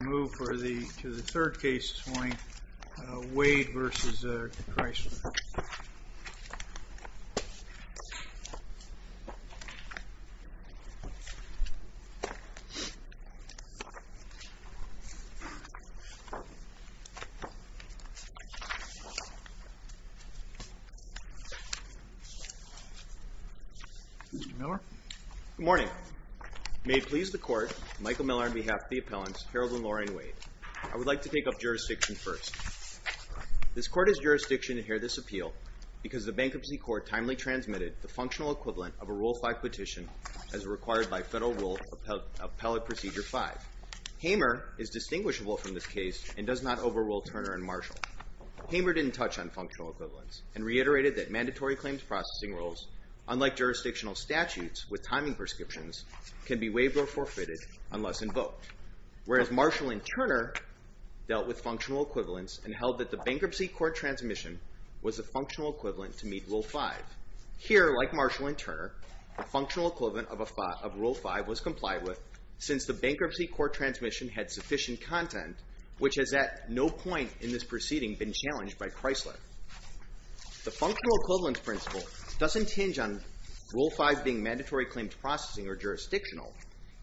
I move to the third case this morning, Wade v. Kreisler. Good morning. May it please the Court, Michael Miller on behalf of the appellants, Harold and Lorraine Wade. I would like to take up jurisdiction first. This Court is jurisdiction to hear this appeal because the Bankruptcy Court timely transmitted the functional equivalent of a Rule 5 petition as required by Federal Rule Appellate Procedure 5. Hamer is distinguishable from this case and does not overrule Turner and Marshall. Hamer didn't touch on functional equivalents and reiterated that mandatory claims processing rules, unlike jurisdictional statutes with timing prescriptions, can be waived or forfeited unless invoked, whereas Marshall and Turner dealt with functional equivalents and held that the Bankruptcy Court transmission was the functional equivalent to meet Rule 5. Here, like Marshall and Turner, the functional equivalent of Rule 5 was complied with since the Bankruptcy Court transmission had sufficient content, which has at no point in this proceeding been challenged by Kreisler. The functional equivalence principle doesn't hinge on Rule 5 being mandatory claims processing or jurisdictional.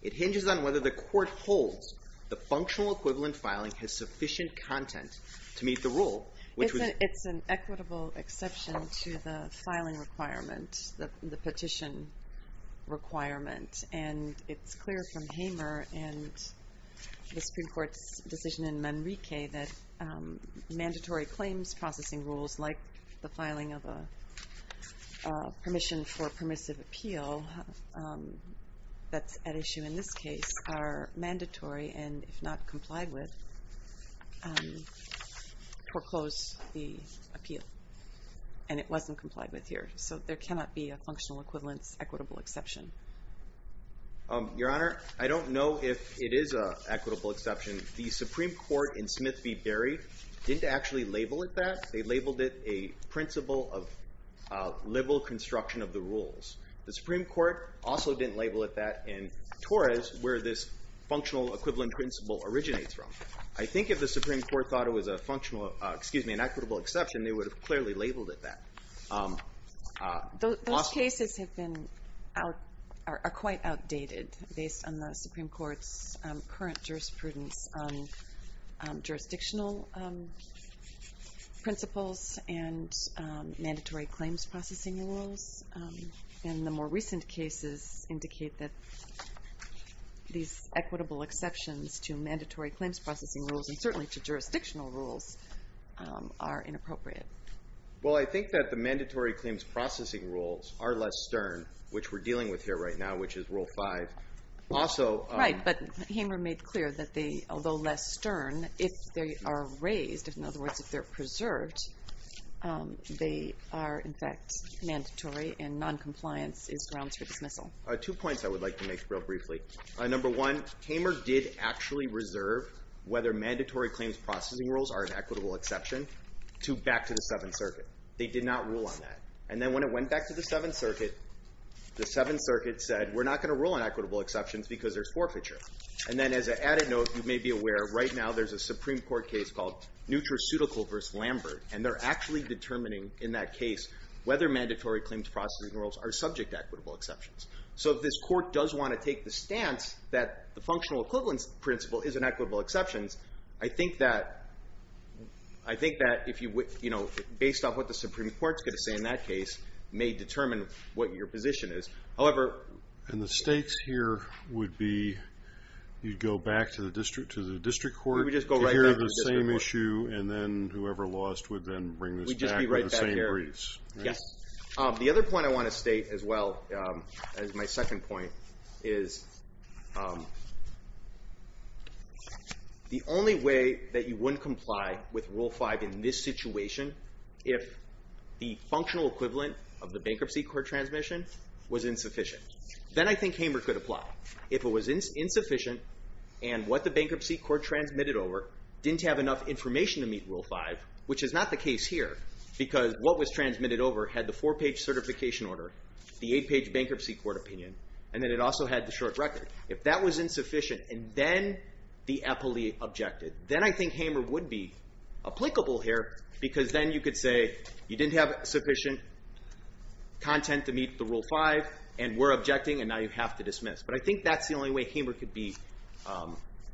It hinges on whether the Court holds the functional equivalent filing has sufficient content to meet the rule. It's an equitable exception to the filing requirement, the petition requirement, and it's clear from Hamer and the Supreme Court's decision in Manrique that mandatory claims processing rules, like the filing of a permission for permissive appeal that's at issue in this case, are mandatory and, if not complied with, foreclose the appeal. And it wasn't complied with here, so there cannot be a functional equivalence equitable exception. Your Honor, I don't know if it is an equitable exception. The Supreme Court in Smith v. Berry didn't actually label it that. They labeled it a principle of liberal construction of the rules. The Supreme Court also didn't label it that in Torres, where this functional equivalent principle originates from. I think if the Supreme Court thought it was a functional, excuse me, an equitable exception, they would have clearly labeled it that. Those cases are quite outdated based on the Supreme Court's current jurisprudence on jurisdictional principles and mandatory claims processing rules. And the more recent cases indicate that these equitable exceptions to mandatory claims processing rules, and certainly to jurisdictional rules, are inappropriate. Well, I think that the mandatory claims processing rules are less stern, which we're dealing with here right now, which is Rule 5. Right, but Hamer made clear that although less stern, if they are raised, in other words, if they're preserved, they are, in fact, mandatory and noncompliance is grounds for dismissal. Two points I would like to make real briefly. Number one, Hamer did actually reserve whether mandatory claims processing rules are an equitable exception back to the Seventh Circuit. They did not rule on that. And then when it went back to the Seventh Circuit, the Seventh Circuit said, we're not going to rule on equitable exceptions because there's forfeiture. And then as an added note, you may be aware, right now there's a Supreme Court case called Neutraceutical v. Lambert, and they're actually determining in that case whether mandatory claims processing rules are subject to equitable exceptions. So if this court does want to take the stance that the functional equivalence principle is an equitable exception, I think that, you know, based on what the Supreme Court is going to say in that case, may determine what your position is. However, And the stakes here would be you'd go back to the district court to hear the same issue, and then whoever lost would then bring this back in the same breeze. Yes. The other point I want to state as well as my second point is the only way that you wouldn't comply with Rule 5 in this situation, if the functional equivalent of the bankruptcy court transmission was insufficient. Then I think Hamer could apply. If it was insufficient and what the bankruptcy court transmitted over didn't have enough information to meet Rule 5, which is not the case here, because what was transmitted over had the four-page certification order, the eight-page bankruptcy court opinion, and then it also had the short record. If that was insufficient and then the EPPLE objected, then I think Hamer would be applicable here because then you could say you didn't have sufficient content to meet the Rule 5 and we're objecting and now you have to dismiss. But I think that's the only way Hamer could be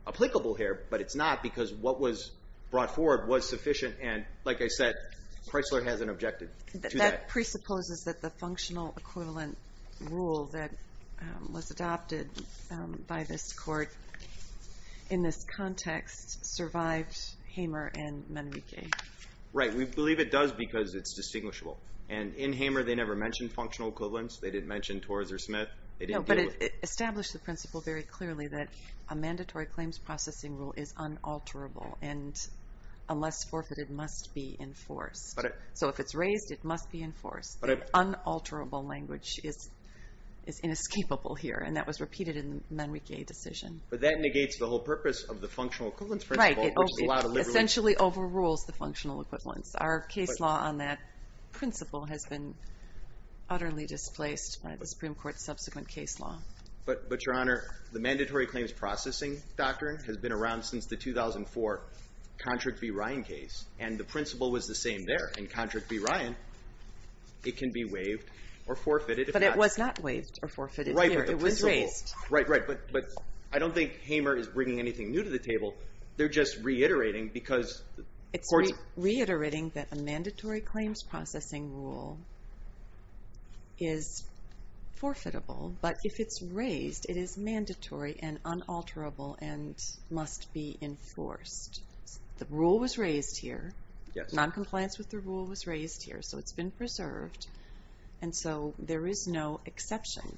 applicable here, but it's not because what was brought forward was sufficient and, like I said, Chrysler hasn't objected to that. That presupposes that the functional equivalent rule that was adopted by this court in this context survived Hamer and Manrique. Right. We believe it does because it's distinguishable. And in Hamer, they never mentioned functional equivalents. They didn't mention Torres or Smith. No, but it established the principle very clearly that a mandatory claims processing rule is unalterable and unless forfeited, must be enforced. So if it's raised, it must be enforced. Unalterable language is inescapable here, and that was repeated in the Manrique decision. But that negates the whole purpose of the functional equivalence principle. Right. It essentially overrules the functional equivalence. Our case law on that principle has been utterly displaced by the Supreme Court's subsequent case law. But, Your Honor, the mandatory claims processing doctrine has been around since the 2004 Contrick v. Ryan case, and the principle was the same there. In Contrick v. Ryan, it can be waived or forfeited. But it was not waived or forfeited here. It was raised. Right, right. But I don't think Hamer is bringing anything new to the table. They're just reiterating because the courts... It's reiterating that a mandatory claims processing rule is forfeitable, but if it's raised, it is mandatory and unalterable and must be enforced. The rule was raised here. Yes. Noncompliance with the rule was raised here, so it's been preserved. And so there is no exception,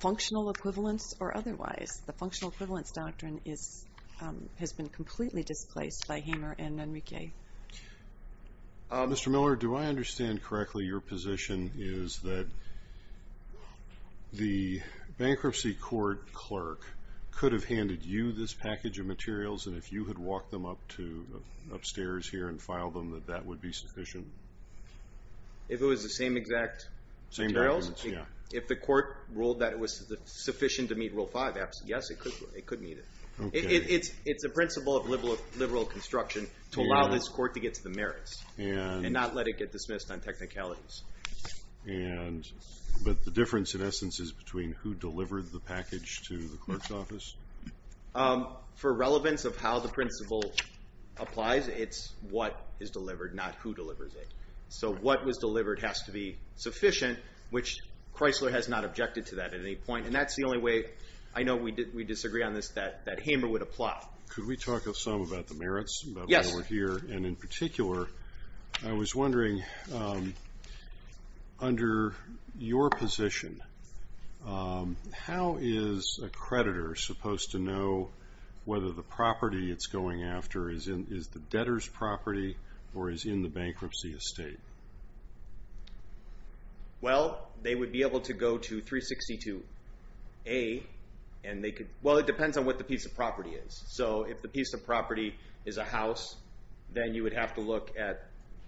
functional equivalence or otherwise. The functional equivalence doctrine has been completely displaced by Hamer and Manrique. Mr. Miller, do I understand correctly your position is that the bankruptcy court clerk could have handed you this package of materials, and if you had walked them upstairs here and filed them, that that would be sufficient? If it was the same exact materials? Same documents, yeah. If the court ruled that it was sufficient to meet Rule 5, yes, it could meet it. It's a principle of liberal construction to allow this court to get to the merits and not let it get dismissed on technicalities. But the difference, in essence, is between who delivered the package to the clerk's office? For relevance of how the principle applies, it's what is delivered, not who delivers it. So what was delivered has to be sufficient, which Chrysler has not objected to that at any point, and that's the only way I know we disagree on this, that Hamer would apply. Yes. Mr. Miller here, and in particular, I was wondering, under your position, how is a creditor supposed to know whether the property it's going after is the debtor's property or is in the bankruptcy estate? Well, they would be able to go to 362A, and they could, well, it depends on what the piece of property is. So if the piece of property is a house, then you would have to look at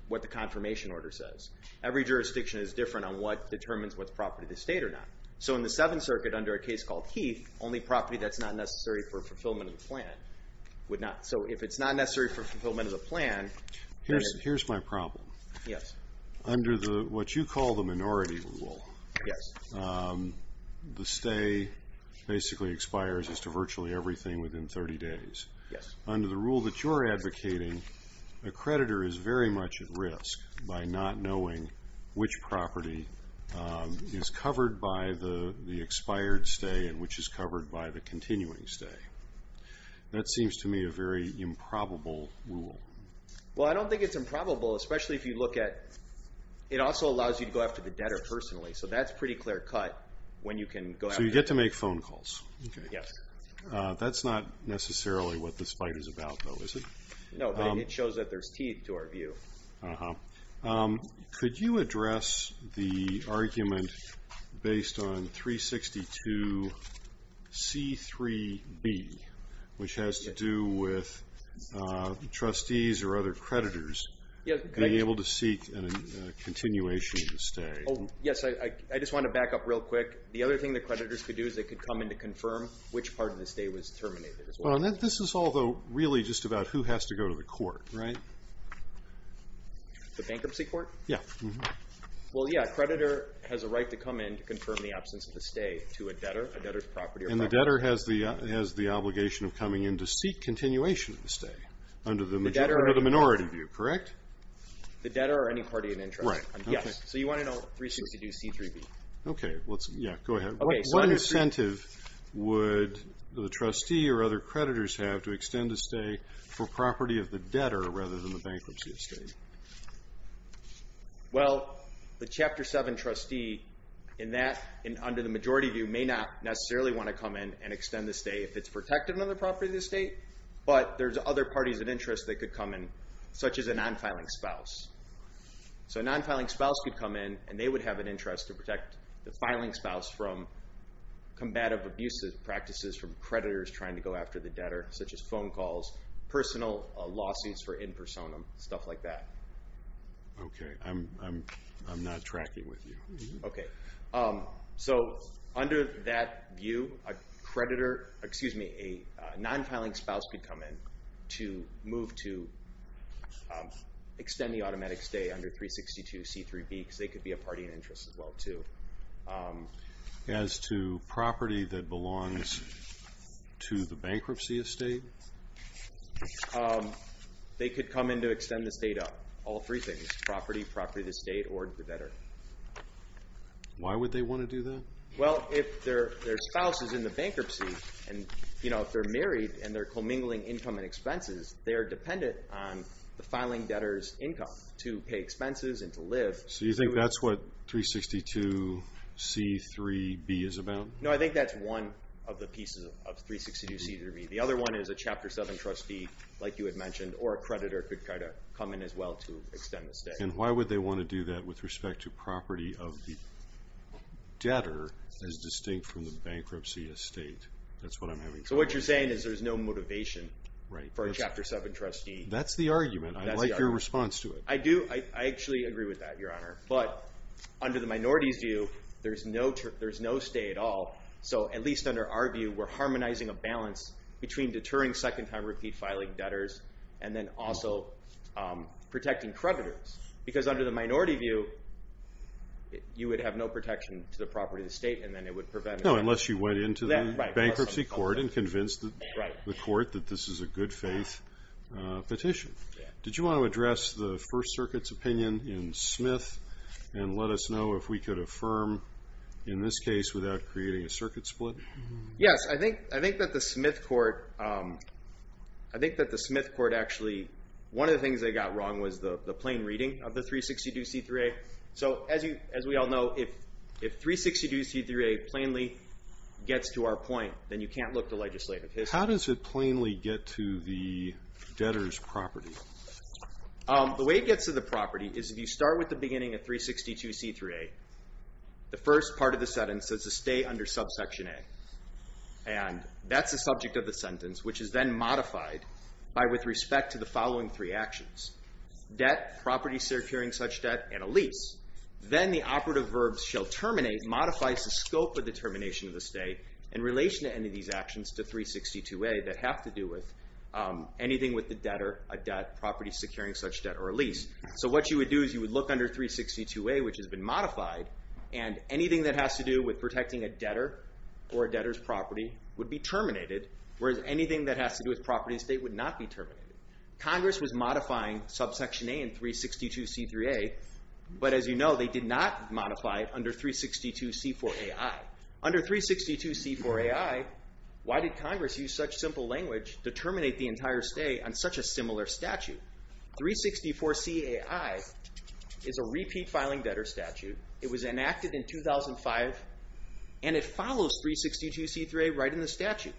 what the confirmation order says. Every jurisdiction is different on what determines what's property of the state or not. So in the Seventh Circuit, under a case called Heath, only property that's not necessary for fulfillment of the plan would not. So if it's not necessary for fulfillment of the plan, then it's… Here's my problem. Yes. Under what you call the minority rule, the stay basically expires as to virtually everything within 30 days. Yes. Under the rule that you're advocating, a creditor is very much at risk by not knowing which property is covered by the expired stay and which is covered by the continuing stay. That seems to me a very improbable rule. Well, I don't think it's improbable, especially if you look at it also allows you to go after the debtor personally. So that's pretty clear-cut when you can go after… So you get to make phone calls. Yes. That's not necessarily what this fight is about, though, is it? No, but it shows that there's teeth to our view. Could you address the argument based on 362C3B, which has to do with trustees or other creditors being able to seek a continuation of the stay? Yes, I just want to back up real quick. The other thing the creditors could do is they could come in to confirm which part of the stay was terminated as well. This is all, though, really just about who has to go to the court, right? The bankruptcy court? Yes. Well, yes, a creditor has a right to come in to confirm the absence of the stay to a debtor, a debtor's property or property. And the debtor has the obligation of coming in to seek continuation of the stay under the minority view, correct? The debtor or any party of interest. Right. Yes. So you want to know 362C3B. Okay. Yeah, go ahead. What incentive would the trustee or other creditors have to extend a stay for property of the debtor rather than the bankruptcy estate? Well, the Chapter 7 trustee in that, under the majority view, may not necessarily want to come in and extend the stay if it's protected under the property of the estate, but there's other parties of interest that could come in, such as a non-filing spouse. So a non-filing spouse could come in, and they would have an interest to protect the filing spouse from combative abuses, practices from creditors trying to go after the debtor, such as phone calls, personal lawsuits for in personam, stuff like that. Okay. I'm not tracking with you. Okay. So under that view, a non-filing spouse could come in to move to extend the automatic stay under 362C3B, because they could be a party of interest as well, too. As to property that belongs to the bankruptcy estate? They could come in to extend the stay to all three things, property, property of the estate, or the debtor. Why would they want to do that? Well, if their spouse is in the bankruptcy, and, you know, if they're married and they're commingling income and expenses, they're dependent on the filing debtor's income to pay expenses and to live. So you think that's what 362C3B is about? No, I think that's one of the pieces of 362C3B. The other one is a Chapter 7 trustee, like you had mentioned, or a creditor could try to come in as well to extend the stay. And why would they want to do that with respect to property of the debtor as distinct from the bankruptcy estate? That's what I'm having trouble with. So what you're saying is there's no motivation for a Chapter 7 trustee. That's the argument. I like your response to it. I do. I actually agree with that, Your Honor. But under the minority's view, there's no stay at all. So at least under our view, we're harmonizing a balance between deterring second-time repeat filing debtors and then also protecting creditors because under the minority view, you would have no protection to the property of the estate, and then it would prevent it. No, unless you went into the bankruptcy court and convinced the court that this is a good-faith petition. Did you want to address the First Circuit's opinion in Smith and let us know if we could affirm, in this case, without creating a circuit split? Yes. I think that the Smith court actually, one of the things they got wrong was the plain reading of the 362C3A. So as we all know, if 362C3A plainly gets to our point, then you can't look to legislative history. How does it plainly get to the debtor's property? The way it gets to the property is if you start with the beginning of 362C3A, the first part of the sentence says to stay under subsection A, and that's the subject of the sentence, which is then modified with respect to the following three actions, debt, property securing such debt, and a lease. Then the operative verb shall terminate modifies the scope of the termination of the stay in relation to any of these actions to 362A that have to do with anything with the debtor, a debt, property securing such debt, or a lease. So what you would do is you would look under 362A, which has been modified, and anything that has to do with protecting a debtor or a debtor's property would be terminated, whereas anything that has to do with property and estate would not be terminated. Congress was modifying subsection A in 362C3A, but as you know, they did not modify it under 362C4AI. Under 362C4AI, why did Congress use such simple language to terminate the entire stay on such a similar statute? 364CAI is a repeat filing debtor statute. It was enacted in 2005, and it follows 362C3A right in the statute,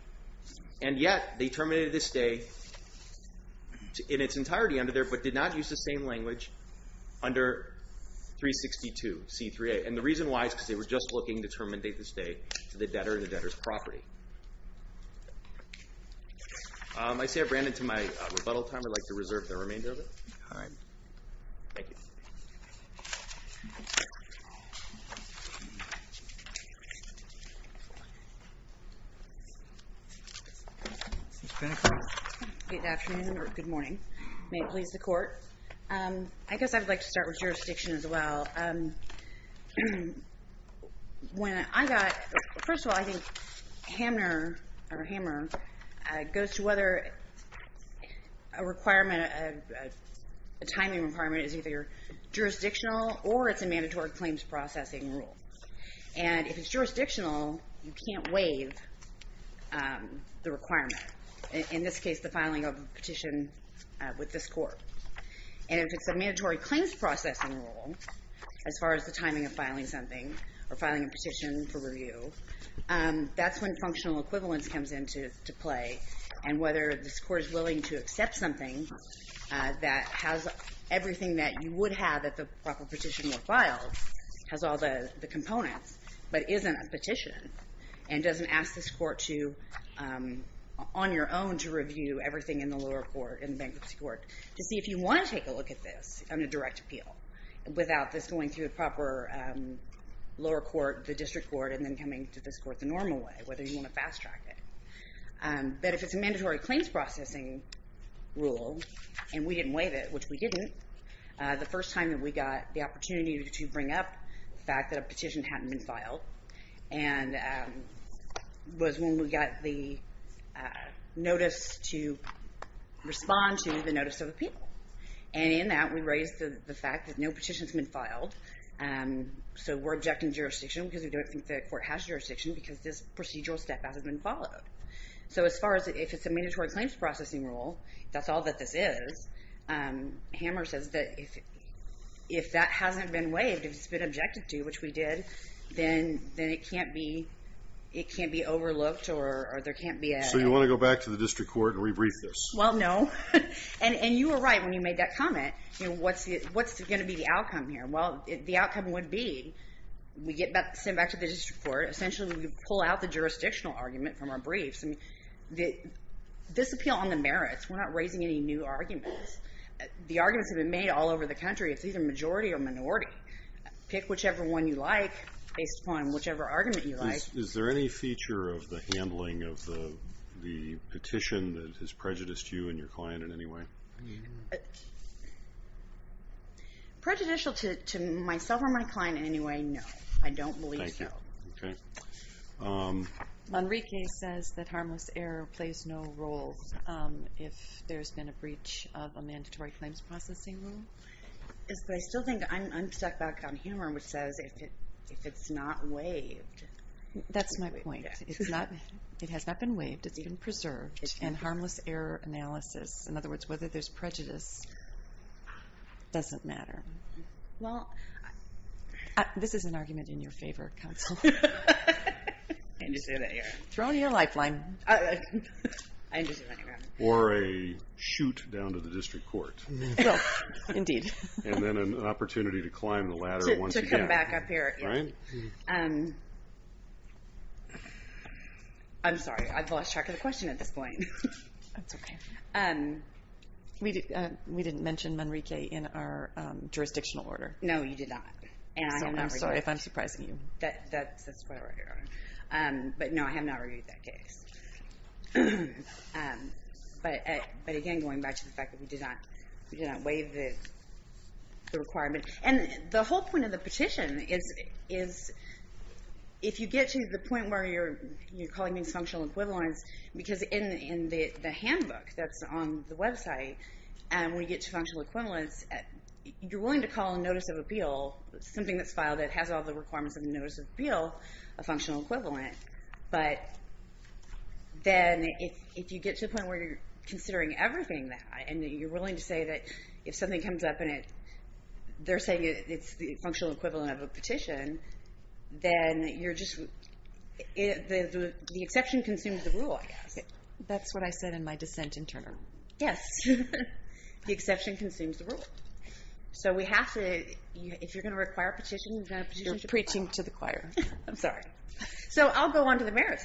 and yet they terminated the stay in its entirety under there but did not use the same language under 362C3A. And the reason why is because they were just looking to terminate the stay to the debtor and the debtor's property. I see I've ran into my rebuttal time. I'd like to reserve the remainder of it. All right. Thank you. Good afternoon or good morning. May it please the Court. I guess I would like to start with jurisdiction as well. First of all, I think Hamner or Hammer goes to whether a requirement, a timing requirement, is either jurisdictional or it's a mandatory claims processing rule. And if it's jurisdictional, you can't waive the requirement. In this case, the filing of a petition with this Court. And if it's a mandatory claims processing rule, as far as the timing of filing something or filing a petition for review, that's when functional equivalence comes into play and whether this Court is willing to accept something that has everything that you would have if a proper petition were filed, has all the components, but isn't a petition and doesn't ask this Court to, on your own, to review everything in the lower court, in the bankruptcy court, to see if you want to take a look at this on a direct appeal without this going through a proper lower court, the district court, and then coming to this court the normal way, whether you want to fast track it. But if it's a mandatory claims processing rule and we didn't waive it, which we didn't, the first time that we got the opportunity to bring up the fact that a petition hadn't been filed was when we got the notice to respond to the notice of appeal. And in that, we raised the fact that no petition's been filed, so we're objecting jurisdiction because we don't think the Court has jurisdiction because this procedural step hasn't been followed. So as far as if it's a mandatory claims processing rule, if that's all that this is, Hammer says that if that hasn't been waived, if it's been objected to, which we did, then it can't be overlooked or there can't be a... So you want to go back to the district court and rebrief this? Well, no. And you were right when you made that comment. What's going to be the outcome here? Well, the outcome would be we get sent back to the district court. Essentially, we pull out the jurisdictional argument from our briefs. This appeal on the merits, we're not raising any new arguments. The arguments have been made all over the country. It's either majority or minority. Pick whichever one you like based upon whichever argument you like. Is there any feature of the handling of the petition that has prejudiced you and your client in any way? Prejudicial to myself or my client in any way, no. I don't believe so. Thank you. Okay. Manrique says that harmless error plays no role if there's been a breach of a mandatory claims processing rule. I still think I'm stuck back on humor, which says if it's not waived... That's my point. It has not been waived. It's been preserved. And harmless error analysis, in other words, whether there's prejudice, doesn't matter. Well, this is an argument in your favor, counsel. I understand that, yeah. Throw in your lifeline. I understand that, yeah. Or a shoot down to the district court. Well, indeed. And then an opportunity to climb the ladder once again. To come back up here. I'm sorry. I've lost track of the question at this point. That's okay. We didn't mention Manrique in our jurisdictional order. No, you did not. I'm sorry if I'm surprising you. That's why we're here. But no, I have not reviewed that case. But again, going back to the fact that we did not waive the requirement. And the whole point of the petition is if you get to the point where you're calling these functional equivalents, because in the handbook that's on the website, when you get to functional equivalents, you're willing to call a notice of appeal, something that's filed that has all the requirements of a notice of appeal, a functional equivalent. But then if you get to the point where you're considering everything, and you're willing to say that if something comes up, and they're saying it's the functional equivalent of a petition, then the exception consumes the rule, I guess. That's what I said in my dissent in turn. Yes. The exception consumes the rule. So we have to, if you're going to require a petition, you've got to petition to the court. You're preaching to the choir. I'm sorry. So I'll go on to the merits.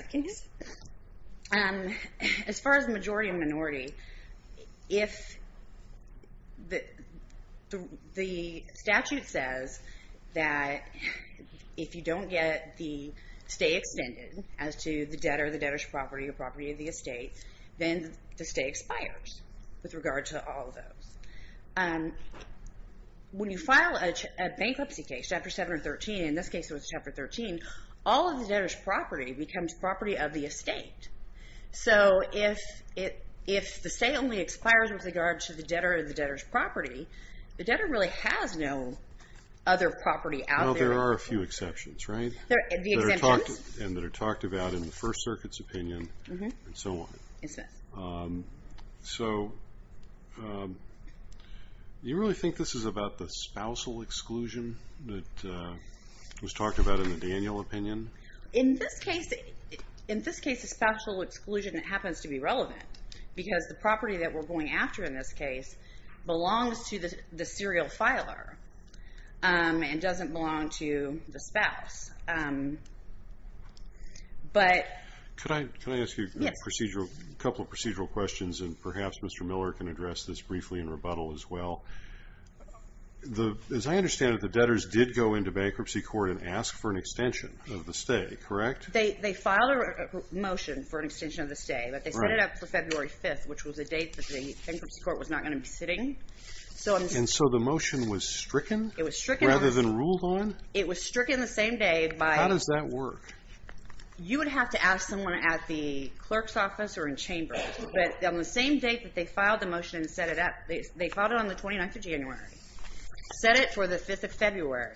As far as majority and minority, if the statute says that if you don't get the stay extended as to the debt or the debtor's property or property of the estate, then the stay expires with regard to all of those. When you file a bankruptcy case, Chapter 7 or 13, in this case it was Chapter 13, all of the debtor's property becomes property of the estate. So if the stay only expires with regard to the debtor or the debtor's property, the debtor really has no other property out there. Well, there are a few exceptions, right? The exemptions? And that are talked about in the First Circuit's opinion and so on. Yes. So you really think this is about the spousal exclusion that was talked about in the Daniel opinion? In this case, the spousal exclusion happens to be relevant because the property that we're going after in this case belongs to the serial filer and doesn't belong to the spouse. Can I ask you a couple of procedural questions, and perhaps Mr. Miller can address this briefly in rebuttal as well? As I understand it, the debtors did go into bankruptcy court and ask for an extension of the stay, correct? They filed a motion for an extension of the stay, but they set it up for February 5th, which was a date that the bankruptcy court was not going to be sitting. And so the motion was stricken rather than ruled on? It was stricken the same day by... How does that work? You would have to ask someone at the clerk's office or in chambers. But on the same date that they filed the motion and set it up, they filed it on the 29th of January, set it for the 5th of February.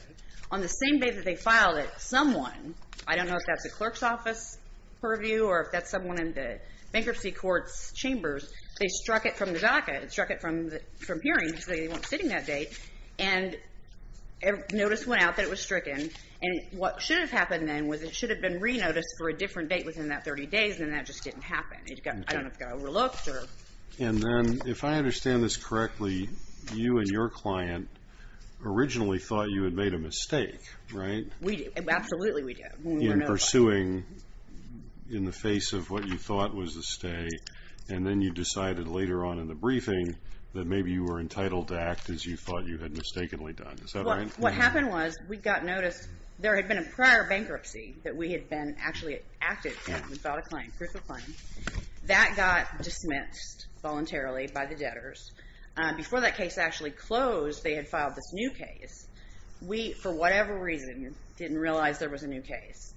On the same day that they filed it, someone, I don't know if that's a clerk's office purview or if that's someone in the bankruptcy court's chambers, they struck it from the docket, struck it from hearings, they weren't sitting that date, and notice went out that it was stricken. And what should have happened then was it should have been re-noticed for a different date within that 30 days, and that just didn't happen. I don't know if it got overlooked or... And then, if I understand this correctly, you and your client originally thought you had made a mistake, right? We did. Absolutely we did. In pursuing in the face of what you thought was a stay, and then you decided later on in the briefing that maybe you were entitled to act as you thought you had mistakenly done. Is that right? What happened was we got notice. There had been a prior bankruptcy that we had been actually active in. We filed a claim, proof of claim. That got dismissed voluntarily by the debtors. Before that case actually closed, they had filed this new case. We, for whatever reason, didn't realize there was a new case.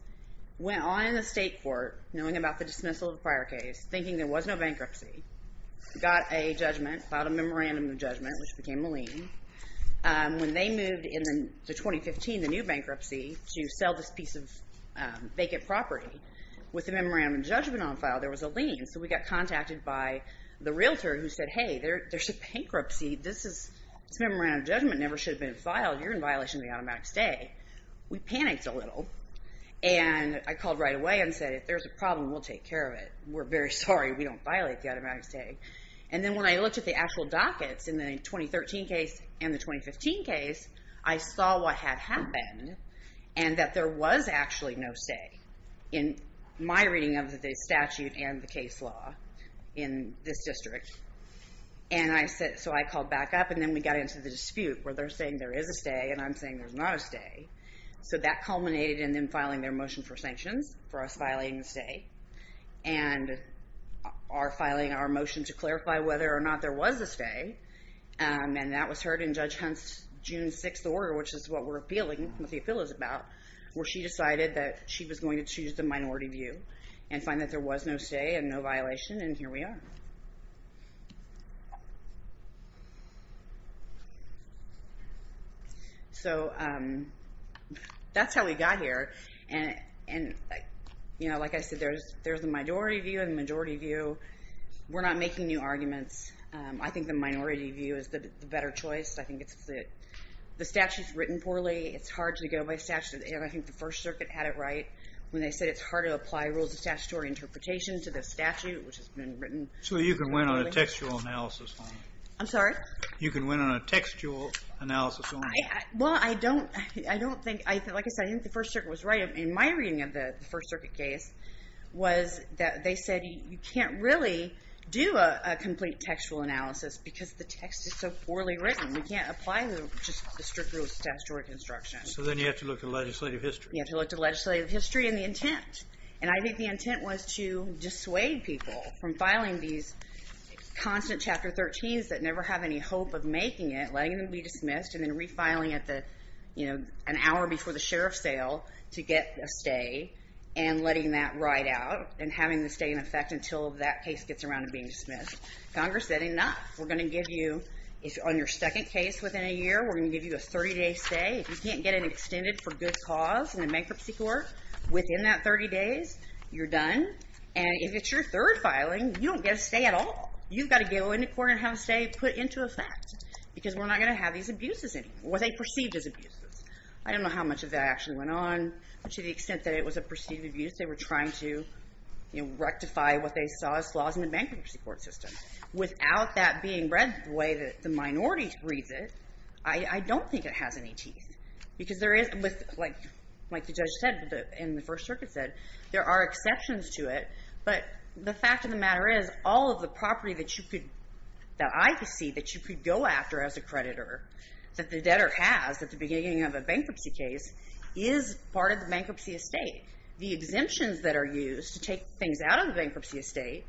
Went on in the state court, knowing about the dismissal of the prior case, thinking there was no bankruptcy, got a judgment, filed a memorandum of judgment, which became a lien. When they moved in to 2015, the new bankruptcy, to sell this piece of vacant property, with the memorandum of judgment on file, there was a lien. So we got contacted by the realtor who said, hey, there's a bankruptcy. This memorandum of judgment never should have been filed. You're in violation of the automatic stay. We panicked a little, and I called right away and said, if there's a problem, we'll take care of it. We're very sorry. We don't violate the automatic stay. And then when I looked at the actual dockets, in the 2013 case and the 2015 case, I saw what had happened, and that there was actually no stay, in my reading of the statute and the case law in this district. So I called back up, and then we got into the dispute, where they're saying there is a stay, and I'm saying there's not a stay. So that culminated in them filing their motion for sanctions for us violating the stay, and filing our motion to clarify whether or not there was a stay. And that was heard in Judge Hunt's June 6th order, which is what we're appealing, what the appeal is about, where she decided that she was going to choose the minority view and find that there was no stay and no violation, and here we are. So that's how we got here. And like I said, there's the minority view and the majority view. We're not making new arguments. I think the minority view is the better choice. I think the statute's written poorly. It's hard to go by statute, and I think the First Circuit had it right when they said it's hard to apply rules of statutory interpretation to the statute, which has been written. So you can win on a textual analysis only. I'm sorry? You can win on a textual analysis only. Well, I don't think, like I said, I think the First Circuit was right. In my reading of the First Circuit case was that they said you can't really do a complete textual analysis because the text is so poorly written. We can't apply just the strict rule of statutory construction. So then you have to look at legislative history. You have to look at legislative history and the intent. And I think the intent was to dissuade people from filing these constant Chapter 13s that never have any hope of making it, letting them be dismissed, and then refiling at the, you know, an hour before the sheriff's sale to get a stay and letting that ride out and having the stay in effect until that case gets around to being dismissed. Congress said enough. We're going to give you, on your second case within a year, we're going to give you a 30-day stay. If you can't get it extended for good cause in the bankruptcy court within that 30 days, you're done. And if it's your third filing, you don't get a stay at all. You've got to go into court and have a stay put into effect because we're not going to have these abuses anymore, what they perceived as abuses. I don't know how much of that actually went on, but to the extent that it was a perceived abuse, they were trying to, you know, rectify what they saw as flaws in the bankruptcy court system. Without that being read the way that the minority reads it, I don't think it has any teeth because there is, like the judge said in the First Circuit said, there are exceptions to it, but the fact of the matter is all of the property that you could, that I could see that you could go after as a creditor, that the debtor has at the beginning of a bankruptcy case, is part of the bankruptcy estate. The exemptions that are used to take things out of the bankruptcy estate,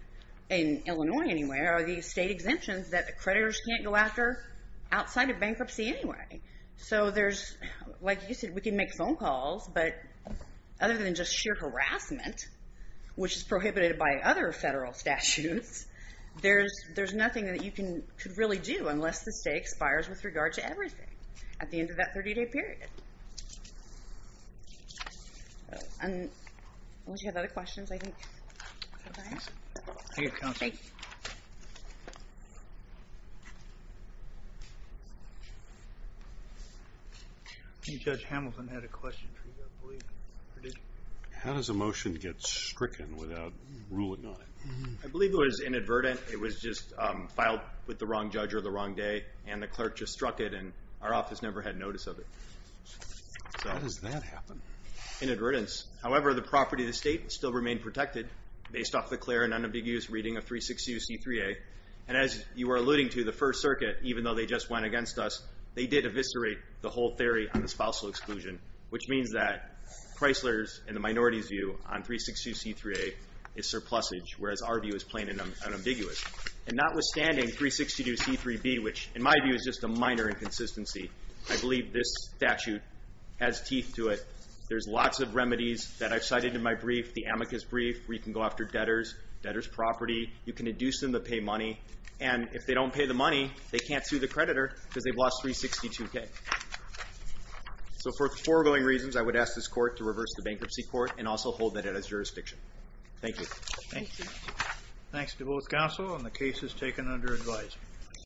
in Illinois anyway, are the state exemptions that the creditors can't go after outside of bankruptcy anyway. So there's, like you said, we can make phone calls, but other than just sheer harassment, which is prohibited by other federal statutes, there's nothing that you could really do unless the state expires with regard to everything at the end of that 30-day period. Unless you have other questions, I think, I'll sign off. Thank you. Judge Hamilton had a question for you, I believe. How does a motion get stricken without ruling on it? I believe it was inadvertent. It was just filed with the wrong judge or the wrong day, and the clerk just struck it, and our office never had notice of it. How does that happen? Inadvertence. However, the property of the state still remained protected based off the clear and unambiguous reading of 362C3A, and as you were alluding to, the First Circuit, even though they just went against us, they did eviscerate the whole theory on the spousal exclusion, which means that Chrysler's and the minority's view on 362C3A is surplusage, whereas our view is plain and unambiguous. And notwithstanding, 362C3B, which in my view is just a minor inconsistency, I believe this statute has teeth to it. There's lots of remedies that I've cited in my brief, the amicus brief, where you can go after debtors, debtors' property, you can induce them to pay money, and if they don't pay the money, they can't sue the creditor because they've lost 362K. So for the foregoing reasons, I would ask this court to reverse the bankruptcy court and also hold that as jurisdiction. Thank you. Thanks to both counsel, and the case is taken under advice.